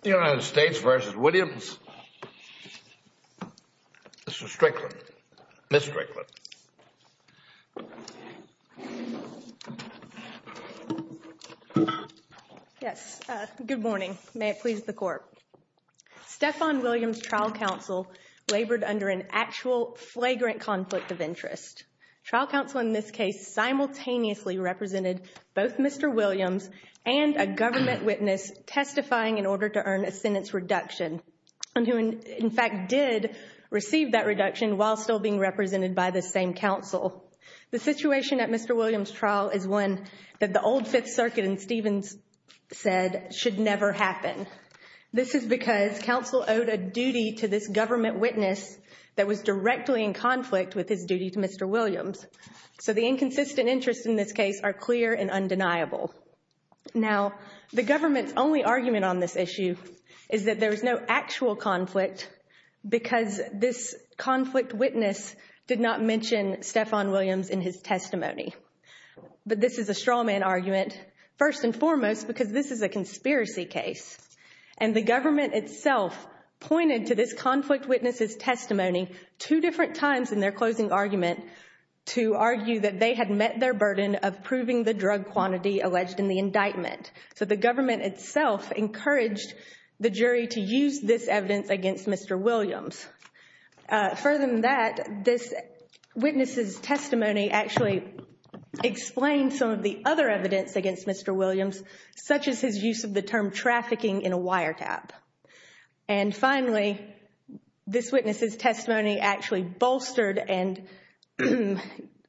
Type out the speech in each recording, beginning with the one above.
The United States v. Williams. Mr. Strickland. Ms. Strickland. Yes, good morning. May it please the court. Stephon Williams' trial counsel labored under an actual flagrant conflict of interest. Trial counsel in this case simultaneously represented both Mr. Williams and a government witness testifying in order to earn a sentence reduction, and who in fact did receive that reduction while still being represented by the same counsel. The situation at Mr. Williams' trial is one that the old Fifth Circuit and Stephon's said should never happen. This is because counsel owed a duty to this government witness that was directly in conflict with his duty to Mr. Williams. So the inconsistent interests in this case are clear and undeniable. Now, the government's only argument on this issue is that there is no actual conflict because this conflict witness did not mention Stephon Williams in his testimony. But this is a straw man argument, first and foremost, because this is a conspiracy case. And the government itself pointed to this conflict witness' testimony two different times in their closing argument to argue that they had met their burden of proving the drug quantity alleged in the indictment. So the government itself encouraged the jury to use this evidence against Mr. Williams. Further than that, this witness' testimony actually explained some of the other evidence against Mr. Williams, such as his use of the term trafficking in a wiretap. And finally, this witness' testimony actually bolstered and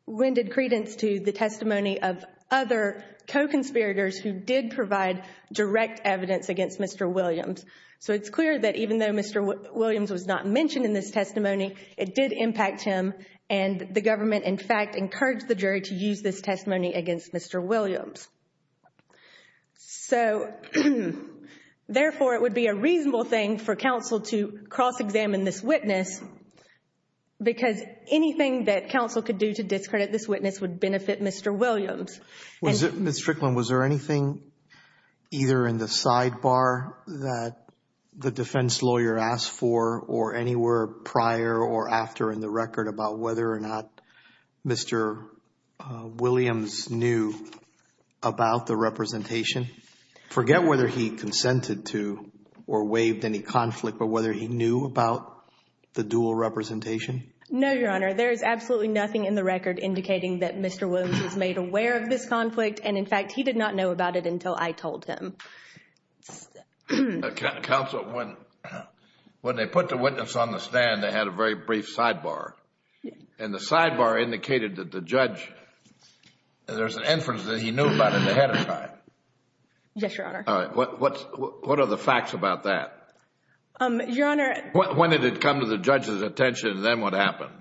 rendered credence to the testimony of other co-conspirators who did provide direct evidence against Mr. Williams. So it's clear that even though Mr. Williams was not mentioned in this testimony, it did impact him. And the government, in fact, encouraged the jury to use this testimony against Mr. Williams. So, therefore, it would be a reasonable thing for counsel to cross-examine this witness because anything that counsel could do to discredit this witness would benefit Mr. Williams. Was it, Ms. Strickland, was there anything either in the sidebar that the defense lawyer asked for or anywhere prior or after in the record about whether or not Mr. Williams knew about the representation? Forget whether he consented to or waived any conflict, but whether he knew about the dual representation? No, Your Honor. There is absolutely nothing in the record indicating that Mr. Williams was made aware of this conflict. And, in fact, he did not know about it until I told him. Counsel, when they put the witness on the stand, they had a very brief sidebar. And the sidebar indicated that the judge, there's an inference that he knew about it ahead of time. Yes, Your Honor. What are the facts about that? When did it come to the judge's attention and then what happened?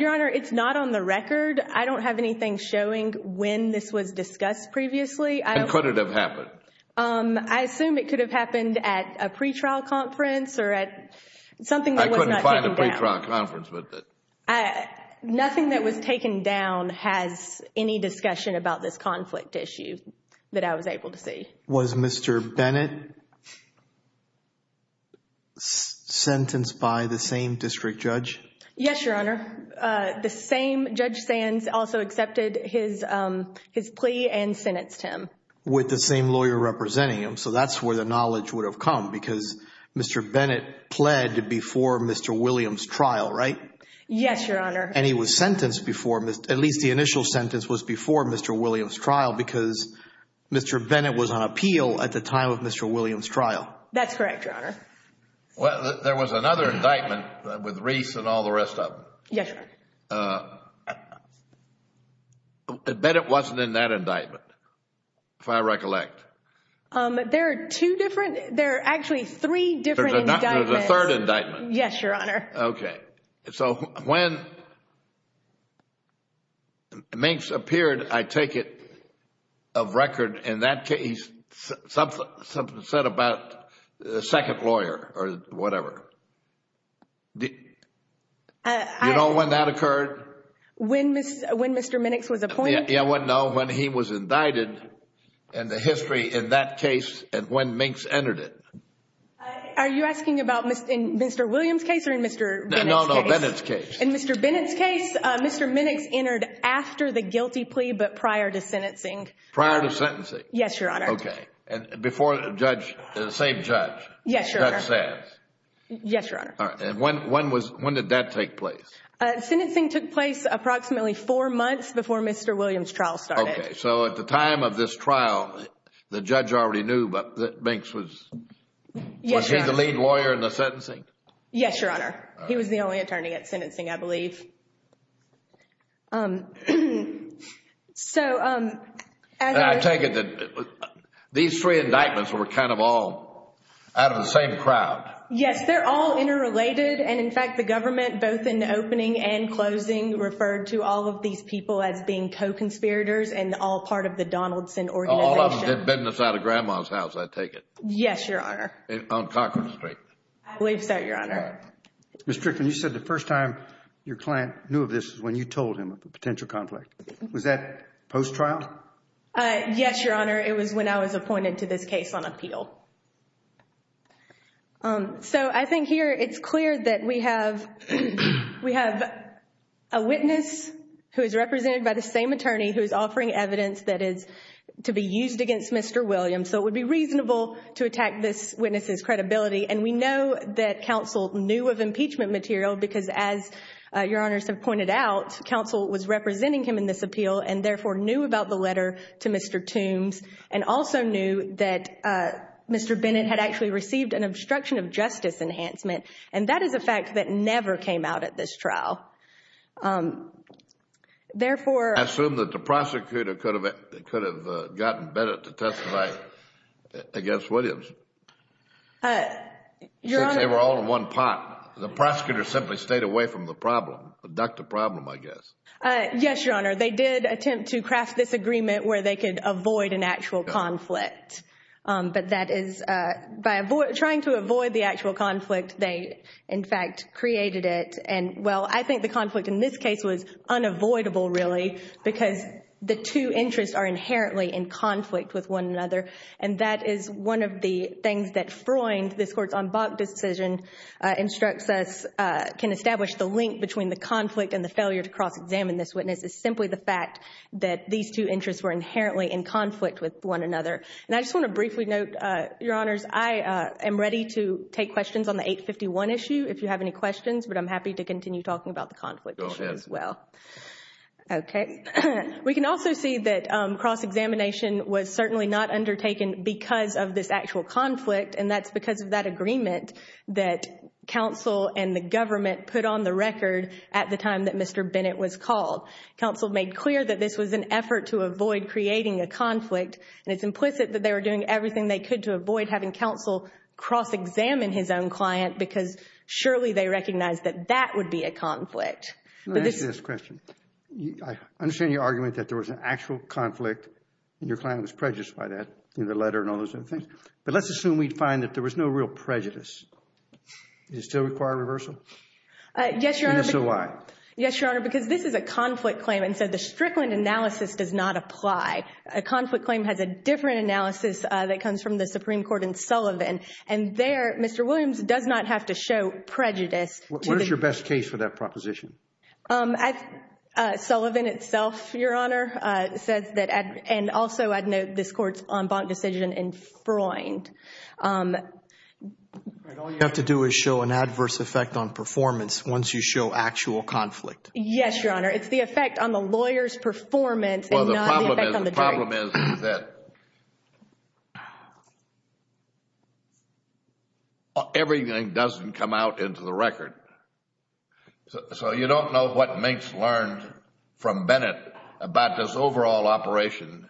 Your Honor, it's not on the record. I don't have anything showing when this was discussed previously. And could it have happened? I assume it could have happened at a pretrial conference or at something that was not taken down. I couldn't find a pretrial conference with it. Nothing that was taken down has any discussion about this conflict issue that I was able to see. Was Mr. Bennett sentenced by the same district judge? Yes, Your Honor. The same Judge Sands also accepted his plea and sentenced him. With the same lawyer representing him. So that's where the knowledge would have come because Mr. Bennett pled before Mr. Williams' trial, right? Yes, Your Honor. And he was sentenced before, at least the initial sentence was before Mr. Williams' trial because Mr. Bennett was on appeal at the time of Mr. Williams' trial. That's correct, Your Honor. Well, there was another indictment with Reese and all the rest of them. Yes, Your Honor. Bennett wasn't in that indictment, if I recollect. There are two different, there are actually three different indictments. There's a third Minks appeared, I take it, of record in that case. Something said about the second lawyer or whatever. You know when that occurred? When Mr. Minnix was appointed? No, when he was indicted and the history in that case and when Minks entered it. Are you asking about Mr. Williams' case or in Mr. Bennett's case? No, no, Bennett's case. In Mr. Bennett's case, Mr. Minnix entered after the guilty plea but prior to sentencing. Prior to sentencing? Yes, Your Honor. Okay. And before the judge, the same judge? Yes, Your Honor. Judge says? Yes, Your Honor. All right. And when did that take place? Sentencing took place approximately four months before Mr. Williams' trial started. Okay. So at the time of this trial, the judge already knew that Minks was, was he the lead lawyer in the sentencing? Yes, Your Honor. He was the only attorney at sentencing, I believe. So, as I take it, these three indictments were kind of all out of the same crowd? Yes, they're all interrelated and in fact the government both in the opening and closing referred to all of these people as being co-conspirators and all part of the Donaldson organization. All of them did business out of Grandma's house, I take it? Yes, Your Honor. On Cochran Street? I believe so, Your Honor. All right. Ms. Tricklin, you said the first time your client knew of this was when you told him of the potential conflict. Was that post-trial? Yes, Your Honor. It was when I was appointed to this case on appeal. So, I think here it's clear that we have, we have a witness who is represented by the same attorney who is offering evidence that is to be used against Mr. Williams. So, it would be reasonable to attack this witness's credibility and we know that counsel knew of impeachment material because as Your Honors have pointed out, counsel was representing him in this appeal and therefore knew about the letter to Mr. Toombs and also knew that Mr. Bennett had actually received an obstruction of justice enhancement and that is a fact that never came out at this trial. Therefore... I assume that the prosecutor could have gotten Bennett to testify against Williams. Your Honor... Since they were all in one pot. The prosecutor simply stayed away from the problem, the duct of problem, I guess. Yes, Your Honor. They did attempt to craft this agreement where they could avoid an actual conflict. But that is, by trying to avoid the actual conflict, they in fact created it and well, I think the conflict in this case was unavoidable really because the two interests are inherently in conflict with one another and that is one of the things that Freund, this court's en banc decision, instructs us can establish the link between the conflict and the failure to cross-examine this witness is simply the fact that these two interests were inherently in conflict with one another. And I just want to briefly note, Your Honors, I am ready to take questions on the 851 issue if you have any questions but I'm happy to continue talking about the conflict issue as well. Go ahead. Okay. We can also see that cross-examination was certainly not undertaken because of this actual conflict and that's because of that agreement that counsel and the government put on the record at the time that Mr. Bennett was called. Counsel made clear that this was an effort to avoid creating a conflict and it's implicit that they were doing everything they could to avoid having counsel cross-examine his own client because surely they recognize that that would be a conflict. Let me ask you this question. I understand your argument that there was an actual conflict and your client was prejudiced by that in the letter and all those other things, but let's assume we'd find that there was no real prejudice. Does it still require reversal? Yes, Your Honor. And if so, why? Yes, Your Honor, because this is a conflict claim and so the Strickland analysis does not apply. A conflict claim has a different analysis that comes from the Supreme Court What is your best case for that proposition? Sullivan itself, Your Honor, says that and also I'd note this court's en banc decision in Freund. All you have to do is show an adverse effect on performance once you show actual conflict. Yes, Your Honor. It's the effect on the lawyer's performance and not the effect on the jury. The problem is that everything doesn't come out into the record. So you don't know what Mintz learned from Bennett about this overall operation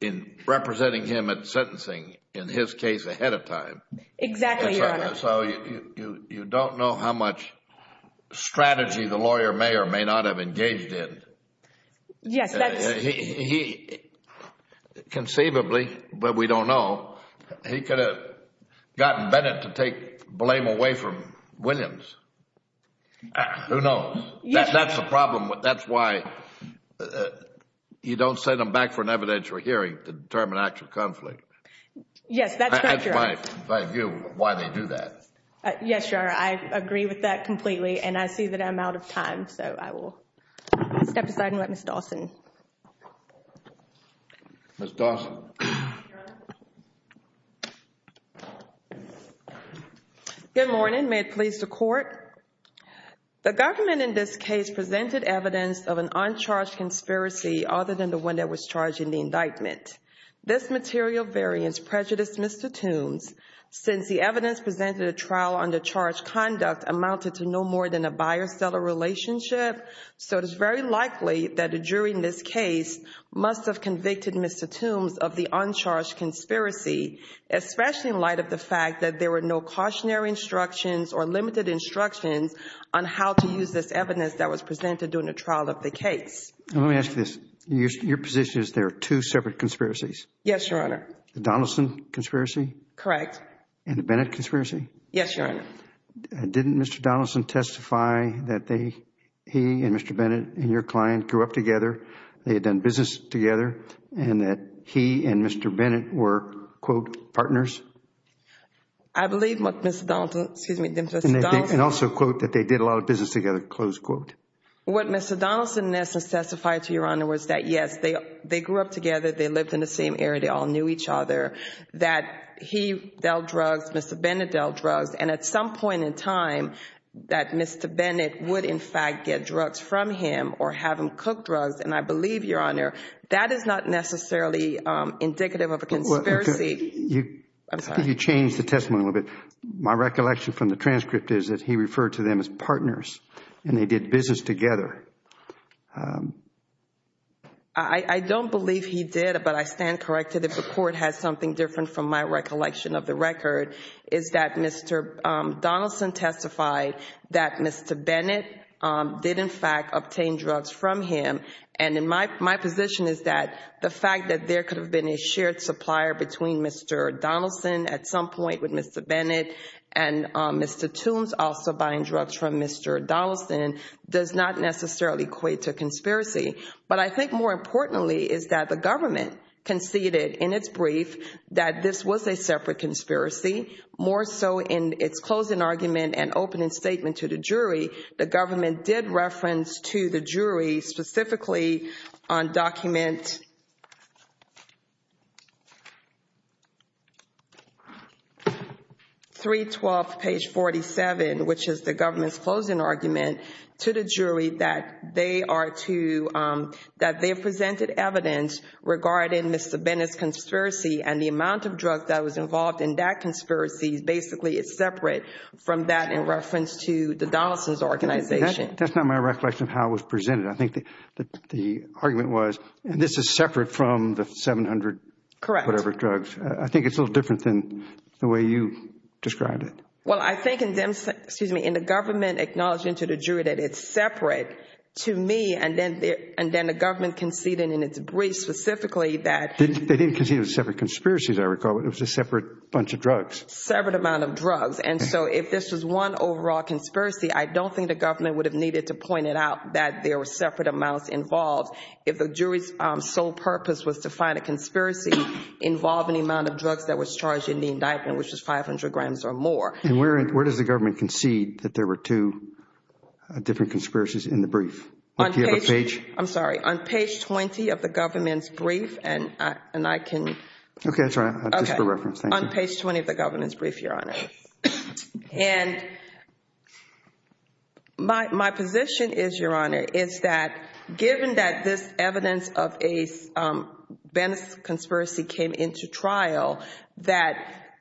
in representing him at sentencing in his case ahead of time. Exactly, Your Honor. So you don't know how much strategy the lawyer may or may not have engaged in. Yes, that's... He, conceivably, but we don't know, he could have gotten Bennett to take blame away from Williams. Who knows? That's the problem. That's why you don't send them back for an evidential hearing to determine actual conflict. Yes, that's correct, Your Honor. That's why they do that. Yes, Your Honor. I agree with that completely and I see that I'm out of time. So I will step aside and let Ms. Dawson. Ms. Dawson. Your Honor. Good morning. May it please the Court? The government in this case presented evidence of an uncharged conspiracy other than the one that was charged in the indictment. This material variance prejudiced Mr. Toombs since the evidence presented at trial under charge conduct amounted to no more than a buyer-seller relationship. So it is very likely that a jury in this case must have convicted Mr. Toombs of the uncharged conspiracy, especially in light of the fact that there were no cautionary instructions or limited instructions on how to use this evidence that was presented during the trial of the case. Let me ask you this. Your position is there are two separate conspiracies? Yes, Your Honor. The Donaldson conspiracy? Correct. And the Bennett conspiracy? Yes, Your Honor. Didn't Mr. Donaldson testify that he and Mr. Bennett and your client grew up together, they had done business together, and that he and Mr. Bennett were, quote, partners? I believe what Mr. Donaldson, excuse me, Mr. Donaldson And also quote, that they did a lot of business together, close quote. What Mr. Donaldson in essence testified to, Your Honor, was that yes, they grew up together, they lived in the same area, they all knew each other, that he dealt drugs, Mr. Bennett dealt drugs, and at some point in time, that Mr. Bennett would in fact get drugs from him or have him cook drugs, and I believe, Your Honor, that is not necessarily indicative of a conspiracy. Could you change the testimony a little bit? My recollection from the transcript is that he referred to them as partners, and they did business together. I don't believe he did, but I stand corrected if the Court has something different from my recollection of the record, is that Mr. Donaldson testified that Mr. Bennett did in fact obtain drugs from him, and my position is that the fact that there could have been a shared supplier between Mr. Donaldson at some point with Mr. Bennett and Mr. Toombs also buying drugs from Mr. Donaldson does not necessarily equate to conspiracy. But I think more importantly is that the government conceded in its brief that this was a separate conspiracy, more so in its closing argument and opening statement to the jury, the government did reference to the jury specifically on document 312 page 47, which is the government's closing argument, to the jury that they are to present evidence regarding Mr. Bennett's conspiracy and the amount of drugs that was involved in that conspiracy basically is separate from that in reference to the Donaldson's organization. That's not my recollection of how it was presented. I think the argument was this is separate from the 700 whatever drugs. Correct. I think it's a little different than the way you described it. Well, I think in the government acknowledging to the jury that it's separate to me and then the government conceded in its brief specifically that They didn't concede it was a separate conspiracy as I recall, but it was a separate bunch of drugs. Separate amount of drugs. And so if this was one overall conspiracy, I don't think the government would have needed to point it out that there were separate amounts involved. If the jury's sole purpose was to find a conspiracy involving the amount of drugs that was charged in the indictment, which was 500 grams or more. And where does the government concede that there were two different conspiracies in the brief? Do you have a page? I'm sorry. On page 20 of the government's brief and I can Okay. That's all right. Just for reference. Thank you. On page 20 of the government's brief, Your Honor. And my position is, Your Honor, is that given that this evidence of a Bennis conspiracy came into trial, that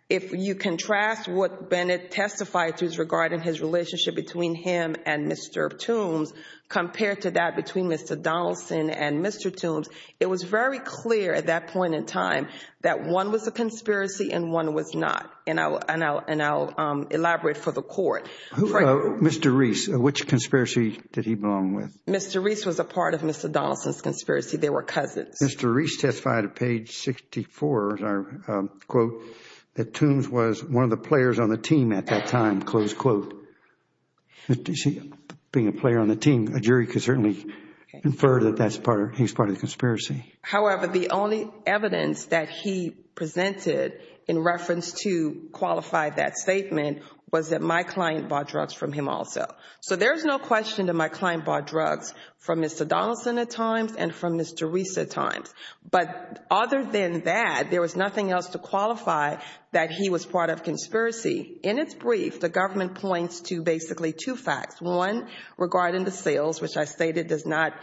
if you contrast what Bennett testified to Regarding his relationship between him and Mr. Toombs compared to that between Mr. Donaldson and Mr. Toombs, it was very clear at that point in time that one was a conspiracy and one was not. And I'll elaborate for the court. Mr. Reese, which conspiracy did he belong with? Mr. Reese was a part of Mr. Donaldson's conspiracy. They were cousins. Mr. Reese testified at page 64, as I quote, that Toombs was one of the players on the team at that time, close quote. Being a player on the team, a jury could certainly infer that he's part of the conspiracy. However, the only evidence that he presented in reference to qualify that statement was that my client bought drugs from him also. So there's no question that my client bought drugs from Mr. Donaldson at times and from Mr. Reese at times. But other than that, there was nothing else to qualify that he was part of a conspiracy. In its brief, the government points to basically two facts. One, regarding the sales, which I stated does not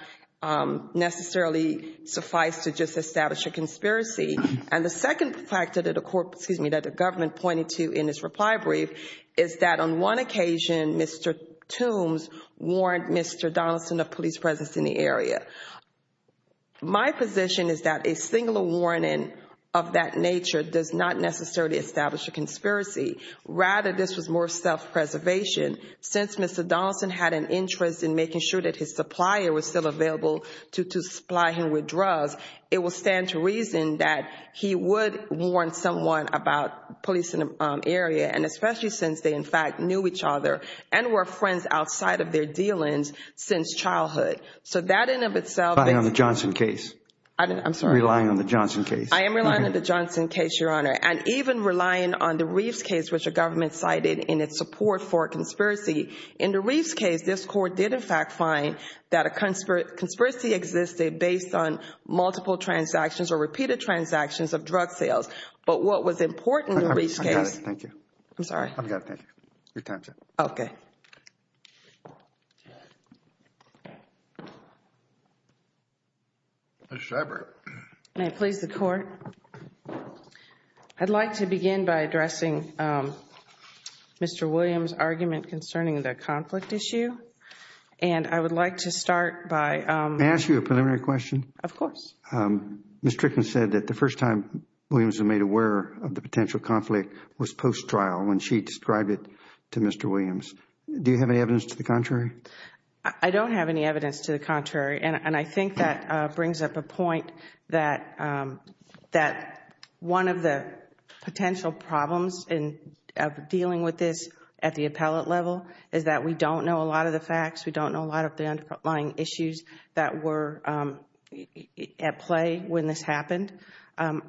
necessarily suffice to just establish a conspiracy. And the second factor that the government pointed to in its reply brief is that on one occasion, Mr. Toombs warned Mr. Donaldson of police presence in the area. My position is that a singular warning of that nature does not necessarily establish a conspiracy. Rather, this was more self-preservation. Since Mr. Donaldson had an interest in making sure that his supplier was still available to supply him with drugs, it will stand to reason that he would warn someone about police in the area, and especially since they, in fact, knew each other and were friends outside of their dealings since childhood. So that in and of itself… Relying on the Johnson case. I'm sorry? Relying on the Johnson case. I am relying on the Johnson case, Your Honor. And even relying on the Reeves case, which the government cited in its support for a conspiracy. In the Reeves case, this Court did, in fact, find that a conspiracy existed based on multiple transactions or repeated transactions of drug sales. But what was important in the Reeves case… I've got it. Thank you. I'm sorry? I've got it. Thank you. Your time is up. Okay. Ms. Schreiber. May it please the Court? I'd like to begin by addressing Mr. Williams' argument concerning the conflict issue. And I would like to start by… May I ask you a preliminary question? Of course. Ms. Trickman said that the first time Williams was made aware of the potential conflict was post-trial when she described it to Mr. Williams. Do you have any evidence to the contrary? I don't have any evidence to the contrary. And I think that brings up a point that one of the potential problems in dealing with this at the appellate level is that we don't know a lot of the facts. We don't know a lot of the underlying issues that were at play when this happened. One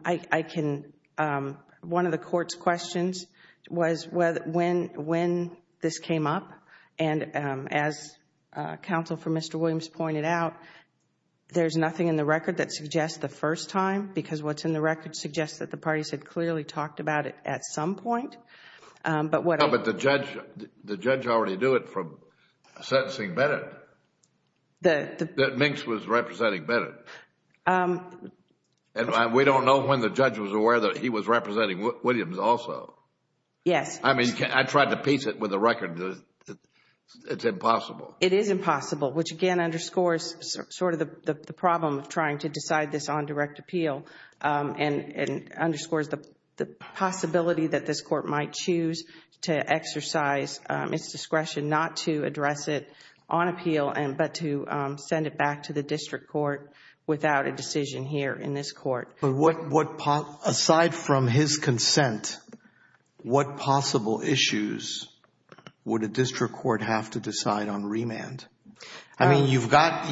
of the Court's questions was when this came up. And as counsel for Mr. Williams pointed out, there's nothing in the record that suggests the first time because what's in the record suggests that the parties had clearly talked about it at some point. But the judge already knew it from sentencing Bennett, that Minx was representing Bennett. And we don't know when the judge was aware that he was representing Williams also. Yes. I mean, I tried to piece it with the record that it's impossible. It is impossible, which again underscores sort of the problem of trying to decide this on direct appeal. And underscores the possibility that this Court might choose to exercise its discretion not to address it on appeal but to send it back to the district court. Without a decision here in this Court. Aside from his consent, what possible issues would a district court have to decide on remand? I mean, you've got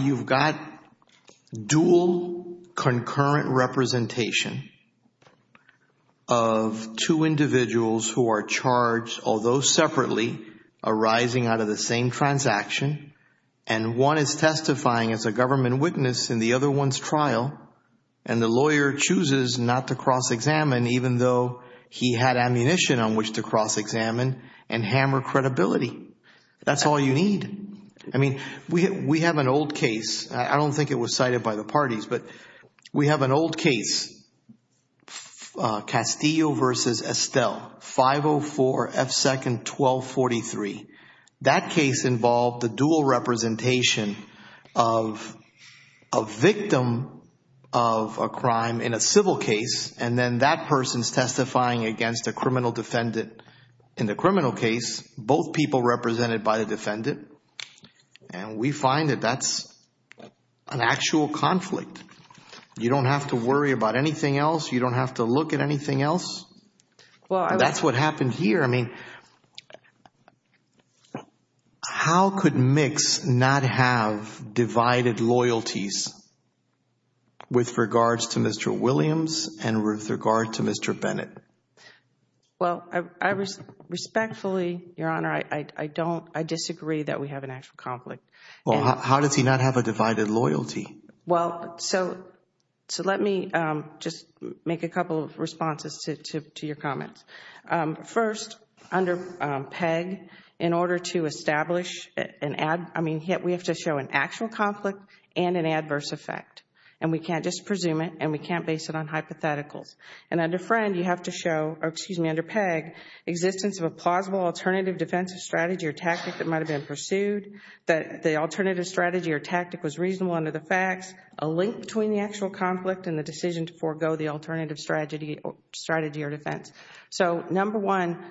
dual concurrent representation of two individuals who are charged, although separately, arising out of the same transaction. And one is testifying as a government witness in the other one's trial. And the lawyer chooses not to cross-examine even though he had ammunition on which to cross-examine and hammer credibility. That's all you need. I mean, we have an old case. I don't think it was cited by the parties, but we have an old case. Castillo v. Estelle, 504 F. 2nd 1243. That case involved the dual representation of a victim of a crime in a civil case. And then that person's testifying against a criminal defendant in the criminal case. Both people represented by the defendant. And we find that that's an actual conflict. You don't have to worry about anything else. You don't have to look at anything else. That's what happened here. I mean, how could Mix not have divided loyalties with regards to Mr. Williams and with regard to Mr. Bennett? Well, respectfully, Your Honor, I disagree that we have an actual conflict. Well, how does he not have a divided loyalty? Well, so let me just make a couple of responses to your comments. First, under PEG, in order to establish an ad, I mean, we have to show an actual conflict and an adverse effect. And we can't just presume it, and we can't base it on hypotheticals. And under PEG, existence of a plausible alternative defensive strategy or tactic that might have been pursued, that the alternative strategy or tactic was reasonable under the facts, a link between the actual conflict and the decision to forego the alternative strategy or defense. So, number one,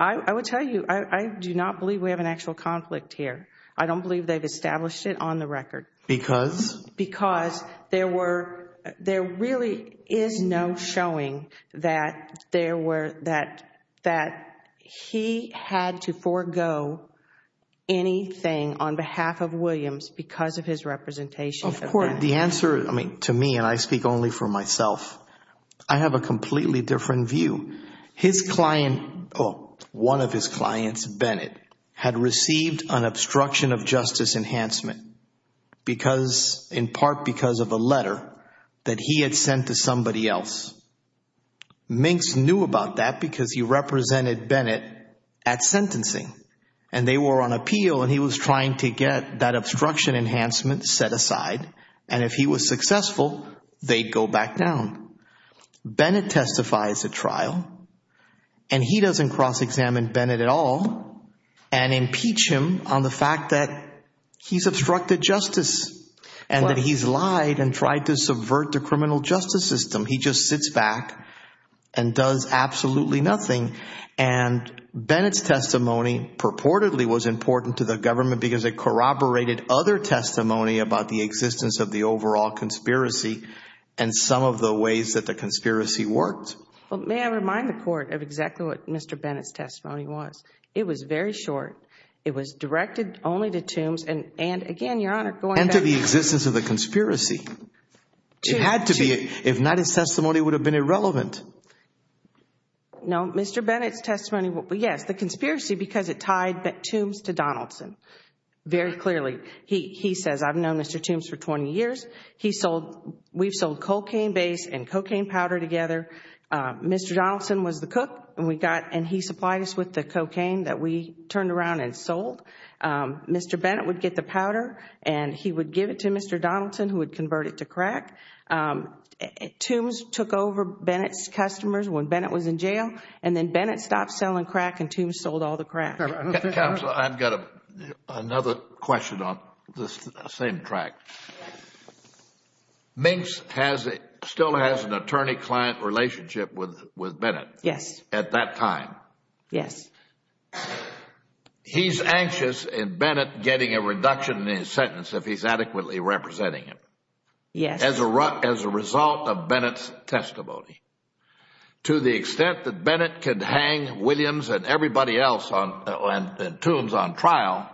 I would tell you, I do not believe we have an actual conflict here. I don't believe they've established it on the record. Because? Because there were, there really is no showing that there were, that he had to forego anything on behalf of Williams because of his representation. Of course. The answer, I mean, to me, and I speak only for myself, I have a completely different view. His client, one of his clients, Bennett, had received an obstruction of justice enhancement. Because, in part because of a letter that he had sent to somebody else. Minx knew about that because he represented Bennett at sentencing. And they were on appeal, and he was trying to get that obstruction enhancement set aside. And if he was successful, they'd go back down. Bennett testifies at trial, and he doesn't cross-examine Bennett at all and impeach him on the fact that he's obstructed justice. And that he's lied and tried to subvert the criminal justice system. He just sits back and does absolutely nothing. And Bennett's testimony purportedly was important to the government because it corroborated other testimony about the existence of the overall conspiracy. And some of the ways that the conspiracy worked. May I remind the court of exactly what Mr. Bennett's testimony was? It was very short. It was directed only to Tombs, and again, Your Honor, going back. And to the existence of the conspiracy. It had to be. If not, his testimony would have been irrelevant. No. Mr. Bennett's testimony. Yes. The conspiracy because it tied Tombs to Donaldson. Very clearly. He says, I've known Mr. Tombs for 20 years. We've sold cocaine base and cocaine powder together. Mr. Donaldson was the cook, and he supplied us with the cocaine that we turned around and sold. Mr. Bennett would get the powder, and he would give it to Mr. Donaldson, who would convert it to crack. Tombs took over Bennett's customers when Bennett was in jail, and then Bennett stopped selling crack, and Tombs sold all the crack. Counsel, I've got another question on the same track. Minks still has an attorney-client relationship with Bennett. Yes. At that time. Yes. He's anxious in Bennett getting a reduction in his sentence if he's adequately representing him. Yes. As a result of Bennett's testimony. To the extent that Bennett could hang Williams and everybody else and Tombs on trial,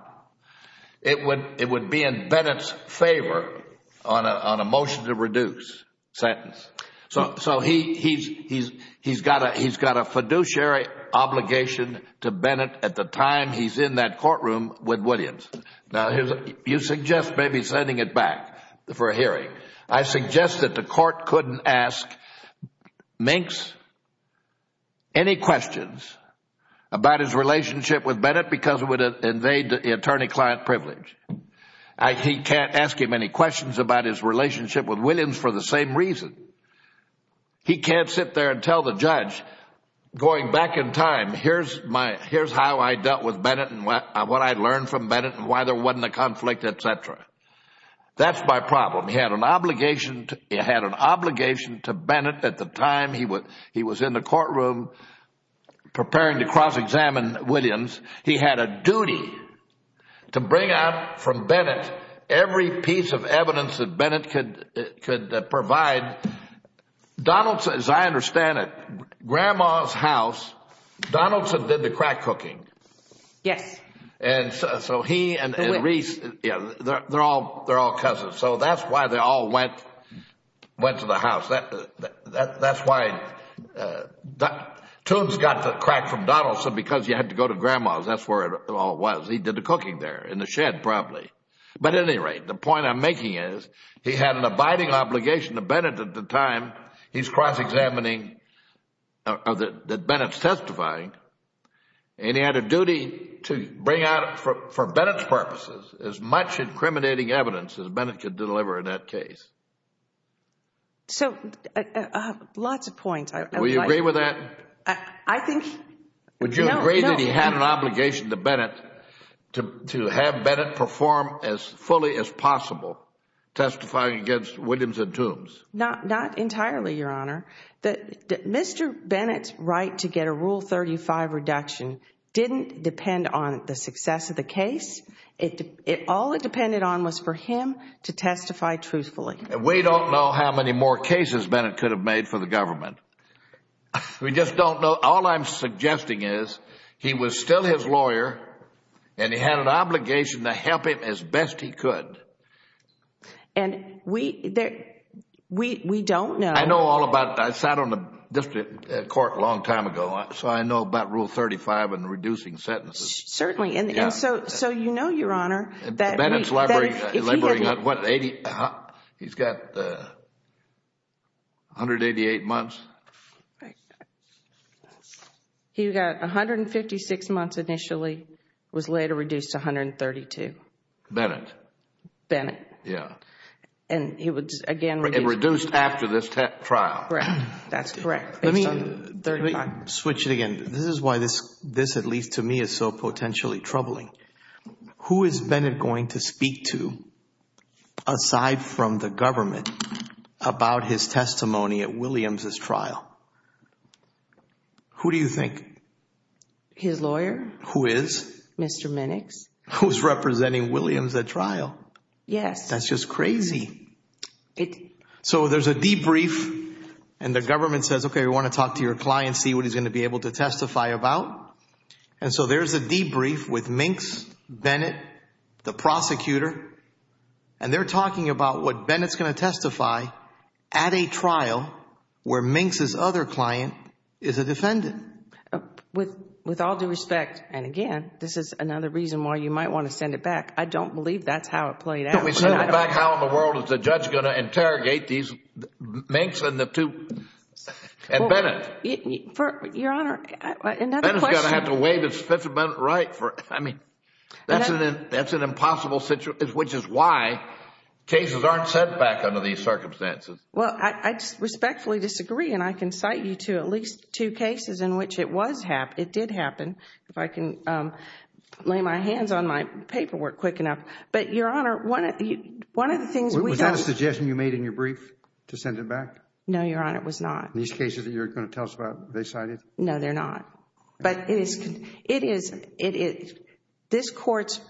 it would be in Bennett's favor on a motion to reduce sentence. So he's got a fiduciary obligation to Bennett at the time he's in that courtroom with Williams. Now, you suggest maybe sending it back for a hearing. I suggest that the court couldn't ask Minks any questions about his relationship with Bennett because it would invade the attorney-client privilege. He can't ask him any questions about his relationship with Williams for the same reason. He can't sit there and tell the judge, going back in time, here's how I dealt with Bennett and what I learned from Bennett and why there wasn't a conflict, etc. That's my problem. He had an obligation to Bennett at the time he was in the courtroom preparing to cross-examine Williams. He had a duty to bring out from Bennett every piece of evidence that Bennett could provide. Donaldson, as I understand it, grandma's house, Donaldson did the crack cooking. Yes. And so he and Reese, they're all cousins. So that's why they all went to the house. That's why Tunes got the crack from Donaldson because he had to go to grandma's. That's where it all was. He did the cooking there in the shed probably. But at any rate, the point I'm making is he had an abiding obligation to Bennett at the time he's cross-examining that Bennett's testifying. And he had a duty to bring out for Bennett's purposes as much incriminating evidence as Bennett could deliver in that case. So lots of points. Will you agree with that? I think no. Would you agree that he had an obligation to Bennett to have Bennett perform as fully as possible testifying against Williams and Tunes? Not entirely, Your Honor. Mr. Bennett's right to get a Rule 35 reduction didn't depend on the success of the case. All it depended on was for him to testify truthfully. We don't know how many more cases Bennett could have made for the government. We just don't know. All I'm suggesting is he was still his lawyer, and he had an obligation to help him as best he could. And we don't know. I know all about it. I sat on the district court a long time ago, so I know about Rule 35 and reducing sentences. Certainly. And so you know, Your Honor, that if he had... Bennett's laboring at what, 80? He's got 188 months? He got 156 months initially, was later reduced to 132. Bennett. Bennett. Yeah. And he was again reduced... And reduced after this trial. Correct. That's correct. Based on Rule 35. Let me switch it again. This is why this, at least to me, is so potentially troubling. Who is Bennett going to speak to, aside from the government, about his testimony at Williams' trial? Who do you think? His lawyer. Who is? Mr. Minix. Who's representing Williams at trial? Yes. That's just crazy. So there's a debrief and the government says, okay, we want to talk to your client, see what he's going to be able to testify about. And so there's a debrief with Minix, Bennett, the prosecutor, and they're talking about what Bennett's going to testify at a trial where Minix's other client is a defendant. With all due respect, and again, this is another reason why you might want to send it back. I don't believe that's how it played out. Well, why don't we send it back? How in the world is the judge going to interrogate these Minix and the two, and Bennett? Your Honor, another question. Bennett's going to have to waive his Fifth Amendment right. I mean, that's an impossible situation, which is why cases aren't sent back under these circumstances. Well, I respectfully disagree, and I can cite you to at least two cases in which it did happen. If I can lay my hands on my paperwork quick enough. But, Your Honor, one of the things we don't… Was that a suggestion you made in your brief to send it back? No, Your Honor, it was not. These cases that you're going to tell us about, they cited? No, they're not. But it is this court's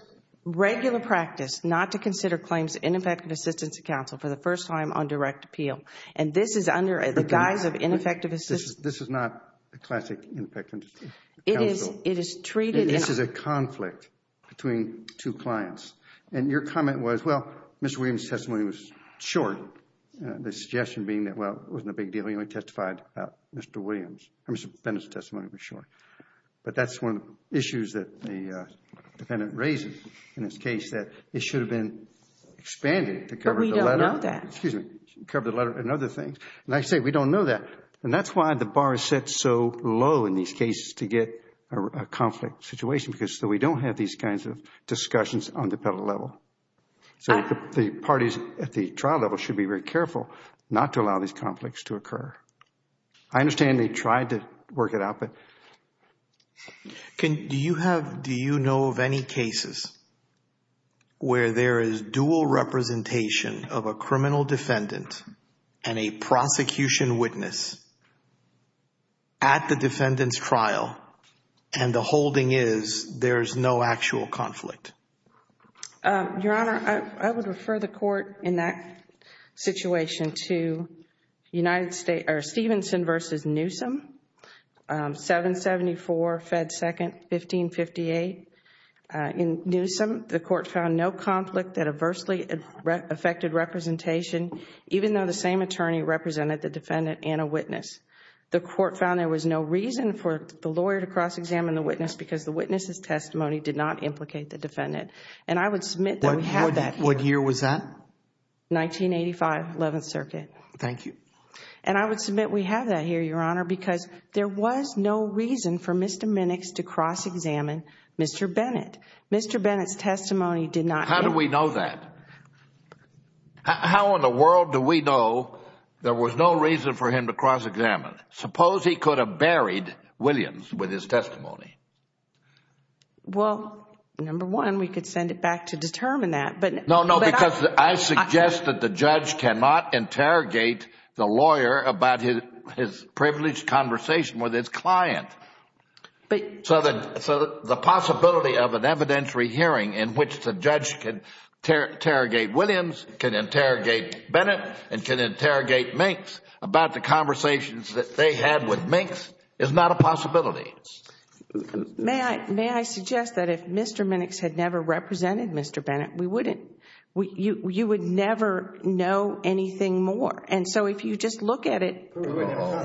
regular practice not to consider claims of ineffective assistance to counsel for the first time on direct appeal. And this is under the guise of ineffective assistance… This is not a classic ineffective counsel. It is treated… This is a conflict between two clients. And your comment was, well, Mr. Williams' testimony was short. The suggestion being that, well, it wasn't a big deal. He only testified about Mr. Williams. Mr. Bennett's testimony was short. But that's one of the issues that the defendant raises in this case, that it should have been expanded to cover the letter. But we don't know that. Excuse me. Cover the letter and other things. And I say, we don't know that. And that's why the bar is set so low in these cases to get a conflict situation, because we don't have these kinds of discussions on the federal level. So the parties at the trial level should be very careful not to allow these conflicts to occur. I understand they tried to work it out, but… Do you have… Do you know of any cases where there is dual representation of a criminal defendant and a prosecution witness at the defendant's trial and the holding is there is no actual conflict? Your Honor, I would refer the court in that situation to Stevenson v. Newsom, 774 Fed 2nd, 1558. In Newsom, the court found no conflict that adversely affected representation, even though the same attorney represented the defendant and a witness. The court found there was no reason for the lawyer to cross-examine the witness because the witness's testimony did not implicate the defendant. And I would submit that we have that here. What year was that? 1985, 11th Circuit. Thank you. And I would submit we have that here, Your Honor, because there was no reason for Mr. Minix to cross-examine Mr. Bennett. Mr. Bennett's testimony did not… How do we know that? How in the world do we know there was no reason for him to cross-examine? Suppose he could have buried Williams with his testimony. Well, number one, we could send it back to determine that, but… No, no, because I suggest that the judge cannot interrogate the lawyer about his privileged conversation with his client. So the possibility of an evidentiary hearing in which the judge can interrogate Williams, can interrogate Bennett, and can interrogate Minx about the conversations that they had with Minx is not a possibility. May I suggest that if Mr. Minix had never represented Mr. Bennett, you would never know anything more. And so if you just look at it… We wouldn't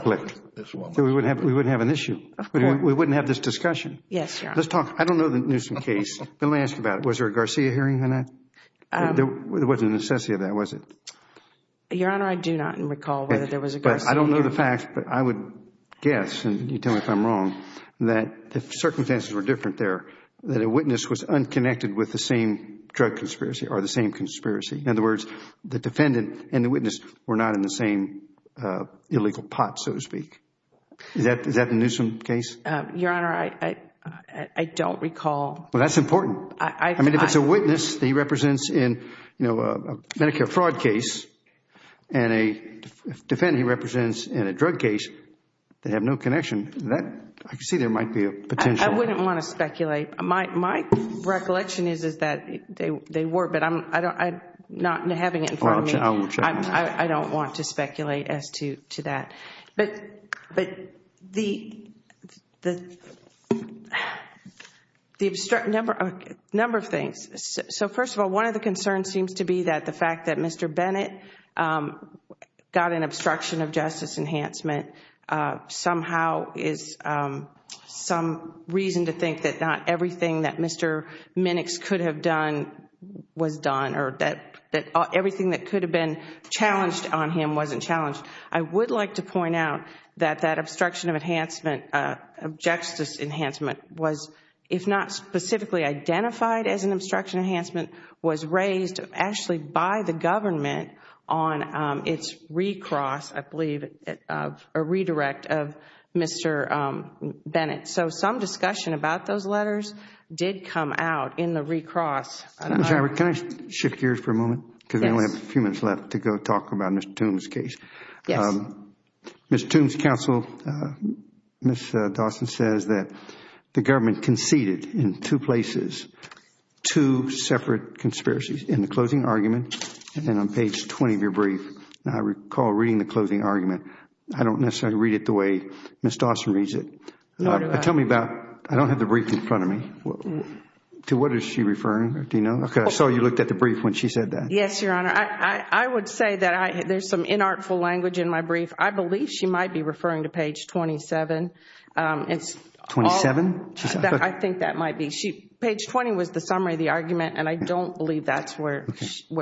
have an issue. Of course. We wouldn't have this discussion. Yes, Your Honor. Let's talk. I don't know the Newsom case. Let me ask you about it. Was there a Garcia hearing or not? There wasn't a necessity of that, was it? Your Honor, I do not recall whether there was a Garcia hearing. I don't know the facts, but I would guess, and you tell me if I'm wrong, that the circumstances were different there, that a witness was unconnected with the same drug conspiracy or the same conspiracy. In other words, the defendant and the witness were not in the same illegal pot, so to speak. Is that the Newsom case? Your Honor, I don't recall. Well, that's important. I mean, if it's a witness that he represents in a Medicare fraud case, and a defendant he represents in a drug case, they have no connection. I can see there might be a potential. I wouldn't want to speculate. My recollection is that they were, but not having it in front of me, I don't want to speculate as to that. But the number of things. So first of all, one of the concerns seems to be that the fact that Mr. Bennett got an obstruction of justice enhancement somehow is some reason to think that not everything that Mr. Minix could have done was done, or that everything that could have been challenged on him wasn't challenged. I would like to point out that that obstruction of justice enhancement was, if not specifically identified as an obstruction enhancement, was raised actually by the government on its recross, I believe, or redirect of Mr. Bennett. So some discussion about those letters did come out in the recross. Ms. Howard, can I shift gears for a moment? Yes. Because I only have a few minutes left to go talk about Mr. Toombs' case. Yes. Ms. Toombs' counsel, Ms. Dawson, says that the government conceded in two places, two separate conspiracies in the closing argument and on page 20 of your brief. I recall reading the closing argument. I don't necessarily read it the way Ms. Dawson reads it. Tell me about, I don't have the brief in front of me. To what is she referring? Do you know? I saw you looked at the brief when she said that. Yes, Your Honor. I would say that there's some inartful language in my brief. I believe she might be referring to page 27. 27? I think that might be. Page 20 was the summary of the argument, and I don't believe that's where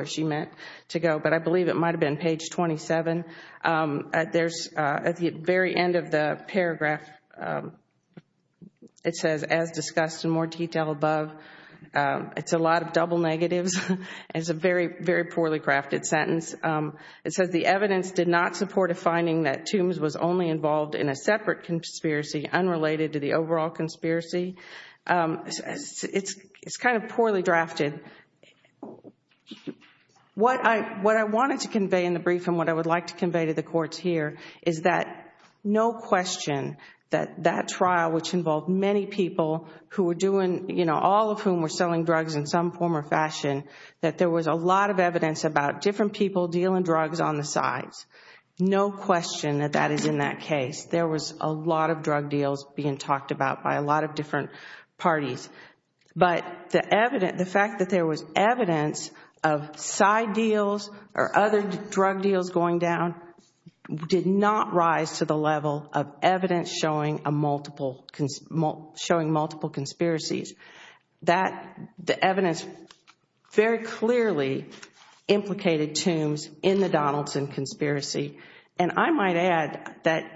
she meant to go. But I believe it might have been page 27. At the very end of the paragraph, it says, as discussed in more detail above, it's a lot of double negatives. It's a very, very poorly crafted sentence. It says the evidence did not support a finding that Toombs was only involved in a separate conspiracy unrelated to the overall conspiracy. It's kind of poorly drafted. What I wanted to convey in the brief and what I would like to convey to the courts here is that no question that that trial, which involved many people, all of whom were selling drugs in some form or fashion, that there was a lot of evidence about different people dealing drugs on the sides. No question that that is in that case. There was a lot of drug deals being talked about by a lot of different parties. But the fact that there was evidence of side deals or other drug deals going down did not rise to the level of evidence showing multiple conspiracies. The evidence very clearly implicated Toombs in the Donaldson conspiracy. And I might add that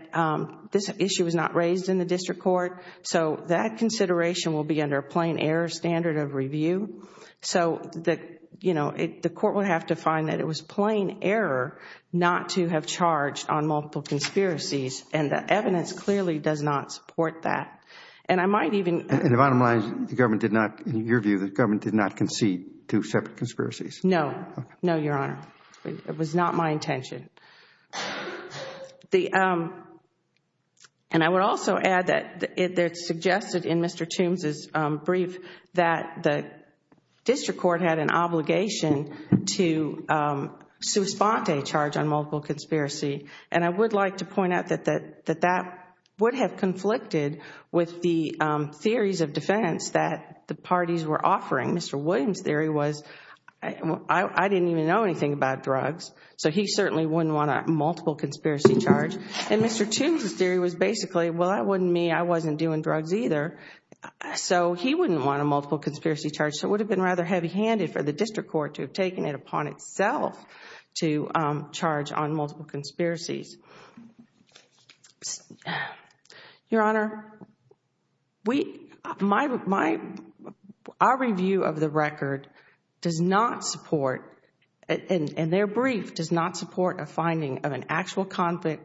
this issue was not raised in the district court, so that consideration will be under a plain error standard of review. So the court would have to find that it was plain error not to have charged on multiple conspiracies, and the evidence clearly does not support that. And I might even In your view, the government did not concede to separate conspiracies? No. No, Your Honor. It was not my intention. And I would also add that it's suggested in Mr. Toombs' brief that the district court had an obligation to suspend a charge on multiple conspiracy. And I would like to point out that that would have conflicted with the theories of defense that the parties were offering. Mr. Williams' theory was, I didn't even know anything about drugs, so he certainly wouldn't want a multiple conspiracy charge. And Mr. Toombs' theory was basically, well, that wouldn't mean I wasn't doing drugs either, so he wouldn't want a multiple conspiracy charge. So it would have been rather heavy-handed for the district court to have taken it upon itself to charge on multiple conspiracies. Your Honor, our review of the record does not support, and their brief does not support a finding of an actual conflict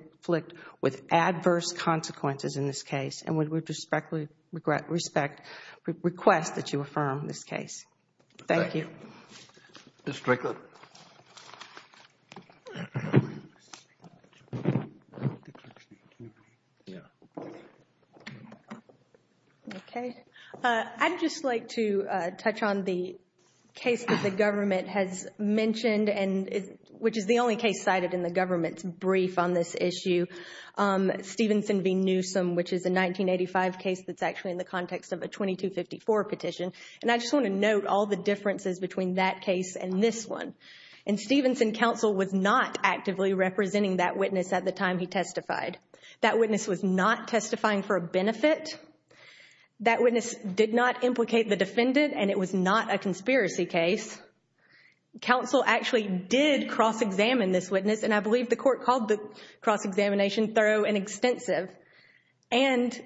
with adverse consequences in this case, and we respectfully request that you affirm this case. Thank you. Thank you. Ms. Strickland. Okay. I'd just like to touch on the case that the government has mentioned, which is the only case cited in the government's brief on this issue, Stevenson v. Newsom, which is a 1985 case that's actually in the context of a 2254 petition. And I just want to note all the differences between that case and this one. In Stevenson, counsel was not actively representing that witness at the time he testified. That witness was not testifying for a benefit. That witness did not implicate the defendant, and it was not a conspiracy case. Counsel actually did cross-examine this witness, and I believe the court called the cross-examination thorough and extensive. And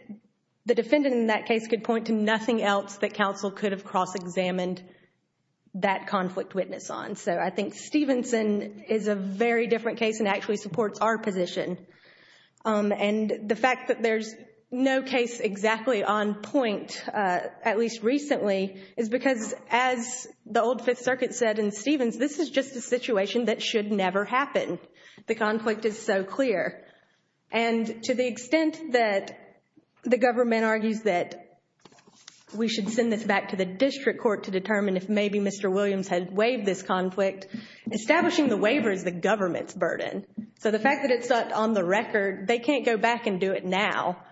the defendant in that case could point to nothing else that counsel could have cross-examined that conflict witness on. So I think Stevenson is a very different case and actually supports our position. And the fact that there's no case exactly on point, at least recently, is because as the old Fifth Circuit said in Stevens, this is just a situation that should never happen. The conflict is so clear. And to the extent that the government argues that we should send this back to the district court to determine if maybe Mr. Williams had waived this conflict, establishing the waiver is the government's burden. So the fact that it's not on the record, they can't go back and do it now.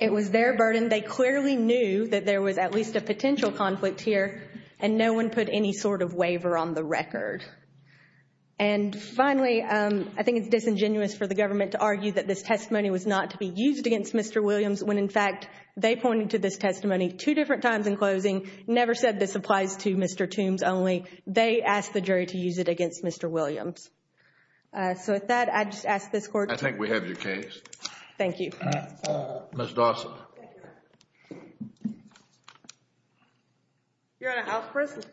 It was their burden. They clearly knew that there was at least a potential conflict here, and no one put any sort of waiver on the record. And finally, I think it's disingenuous for the government to argue that this testimony was not to be used against Mr. Williams when, in fact, they pointed to this testimony two different times in closing, never said this applies to Mr. Toombs only. They asked the jury to use it against Mr. Williams. So with that, I'd just ask this Court I think we have your case. Thank you. Ms. Dawson. Your Honor, I first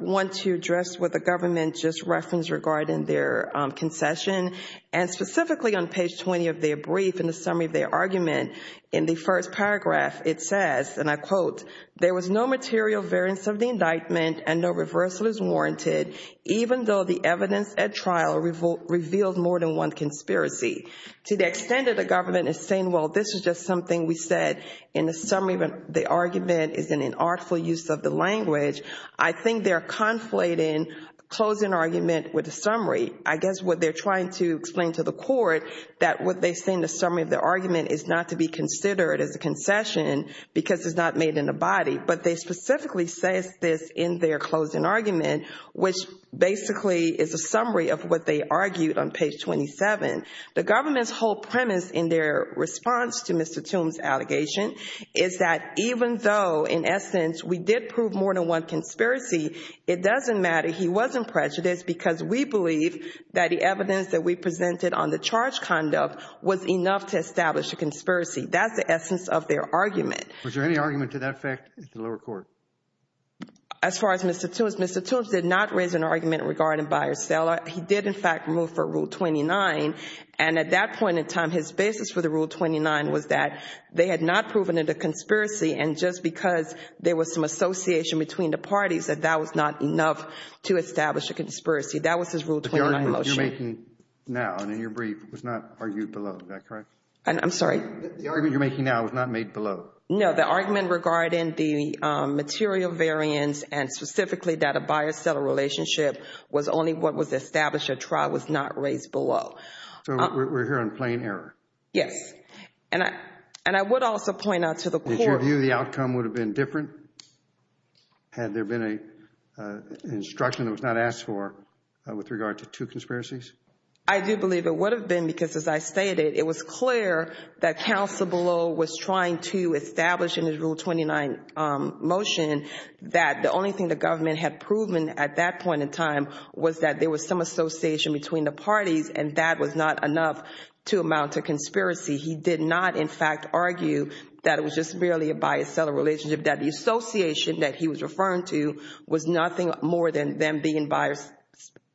want to address what the government just referenced regarding their concession. And specifically on page 20 of their brief, in the summary of their argument, in the first paragraph it says, and I quote, there was no material variance of the indictment and no reversal is warranted even though the evidence at trial revealed more than one conspiracy. To the extent that the government is saying, well, this is just something we said in the summary of the argument is an inartful use of the language, I think they're conflating closing argument with a summary. I guess what they're trying to explain to the Court, that what they say in the summary of the argument is not to be considered as a concession because it's not made in the body. But they specifically say this in their closing argument, which basically is a summary of what they argued on page 27. The government's whole premise in their response to Mr. Toombs' allegation is that even though, in essence, we did prove more than one conspiracy, it doesn't matter. He wasn't prejudiced because we believe that the evidence that we presented on the charge conduct was enough to establish a conspiracy. That's the essence of their argument. Was there any argument to that effect at the lower court? As far as Mr. Toombs, Mr. Toombs did not raise an argument regarding buyer-seller. He did, in fact, move for Rule 29, and at that point in time, his basis for the Rule 29 was that they had not proven it a conspiracy, and just because there was some association between the parties, that that was not enough to establish a conspiracy. That was his Rule 29 motion. The argument you're making now and in your brief was not argued below. Is that correct? I'm sorry? The argument you're making now was not made below. No, the argument regarding the material variance and specifically that a buyer-seller relationship was only what was established at trial was not raised below. So we're here on plain error. Yes. And I would also point out to the court. Did you view the outcome would have been different had there been an instruction that was not asked for with regard to two conspiracies? I do believe it would have been because, as I stated, it was clear that counsel below was trying to establish in his Rule 29 motion that the only thing the government had proven at that point in time was that there was some association between the parties and that was not enough to amount to conspiracy. He did not, in fact, argue that it was just merely a buyer-seller relationship, that the association that he was referring to was nothing more than them being buyers,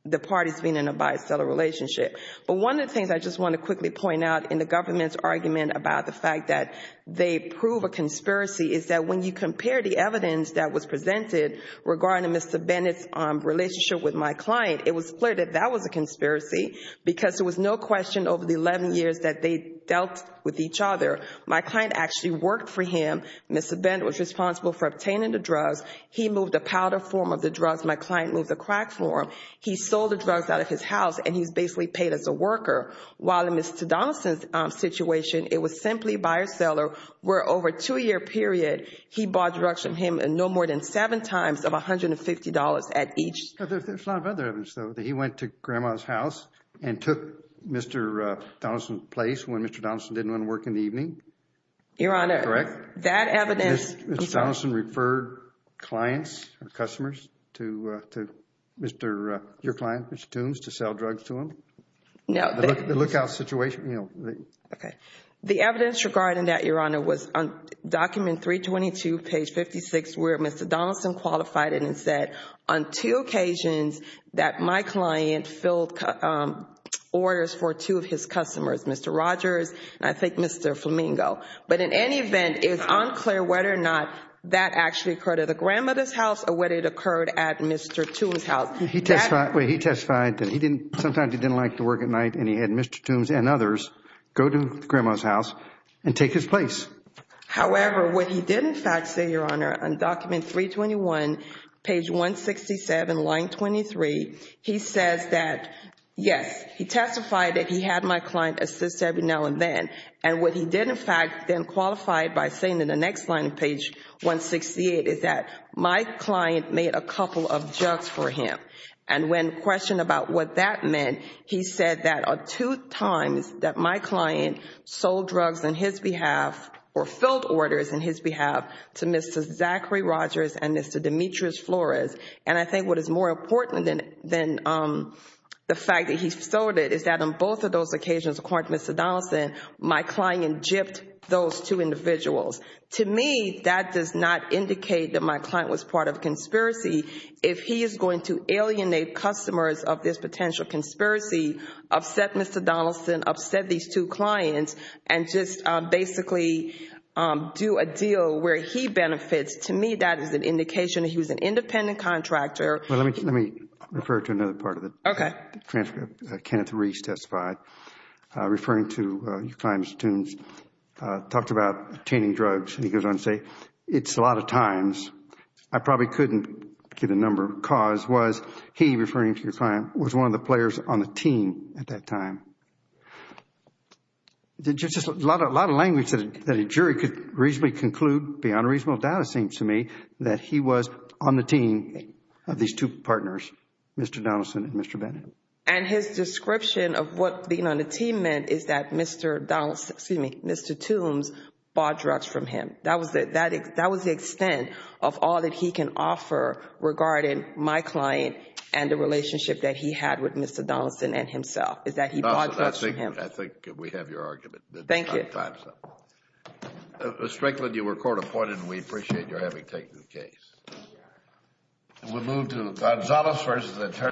the parties being in a buyer-seller relationship. But one of the things I just want to quickly point out in the government's argument about the fact that they prove a conspiracy is that when you compare the evidence that was presented regarding Mr. Bennett's relationship with my client, it was clear that that was a conspiracy because there was no question over the 11 years that they dealt with each other. My client actually worked for him. Mr. Bennett was responsible for obtaining the drugs. He moved the powder form of the drugs. My client moved the crack form. He sold the drugs out of his house, and he was basically paid as a worker. While in Mr. Donaldson's situation, it was simply buyer-seller, where over a two-year period, he bought drugs from him no more than seven times of $150 at each time. There's a lot of other evidence, though, that he went to Grandma's house and took Mr. Donaldson's place when Mr. Donaldson didn't want to work in the evening. Your Honor, that evidence— Mr. Donaldson referred clients or customers to your client, Mr. Toombs, to sell drugs to him. The lookout situation. The evidence regarding that, Your Honor, was on document 322, page 56, where Mr. Donaldson qualified it and said, on two occasions that my client filled orders for two of his customers, Mr. Rogers and I think Mr. Flamingo. But in any event, it is unclear whether or not that actually occurred at the grandmother's house or whether it occurred at Mr. Toombs' house. He testified that sometimes he didn't like to work at night, and he had Mr. Toombs and others go to Grandma's house and take his place. However, what he did, in fact, say, Your Honor, on document 321, page 167, line 23, he says that, yes, he testified that he had my client assist every now and then. And what he did, in fact, then qualified by saying in the next line, page 168, is that my client made a couple of jugs for him. And when questioned about what that meant, he said that on two times that my client sold drugs on his behalf or filled orders on his behalf to Mr. Zachary Rogers and Mr. Demetrius Flores. And I think what is more important than the fact that he sold it is that on both of those occasions, according to Mr. Donaldson, my client gypped those two individuals. To me, that does not indicate that my client was part of a conspiracy. If he is going to alienate customers of this potential conspiracy, upset Mr. Donaldson, upset these two clients, and just basically do a deal where he benefits, to me that is an indication that he was an independent contractor. Let me refer to another part of the transcript. Kenneth Reese testified, referring to your client, Mr. Toombs, talked about obtaining drugs, and he goes on to say, it's a lot of times, I probably couldn't get a number, because he, referring to your client, was one of the players on the team at that time. Just a lot of language that a jury could reasonably conclude, beyond a reasonable doubt it seems to me, that he was on the team of these two partners, Mr. Donaldson and Mr. Bennett. And his description of what being on the team meant is that Mr. Donaldson, excuse me, Mr. Toombs bought drugs from him. That was the extent of all that he can offer regarding my client and the relationship that he had with Mr. Donaldson and himself, is that he bought drugs from him. I think we have your argument. Thank you. Ms. Franklin, you were court appointed, and we appreciate your having taken the case. We'll move to Gonzales v. Attorney General.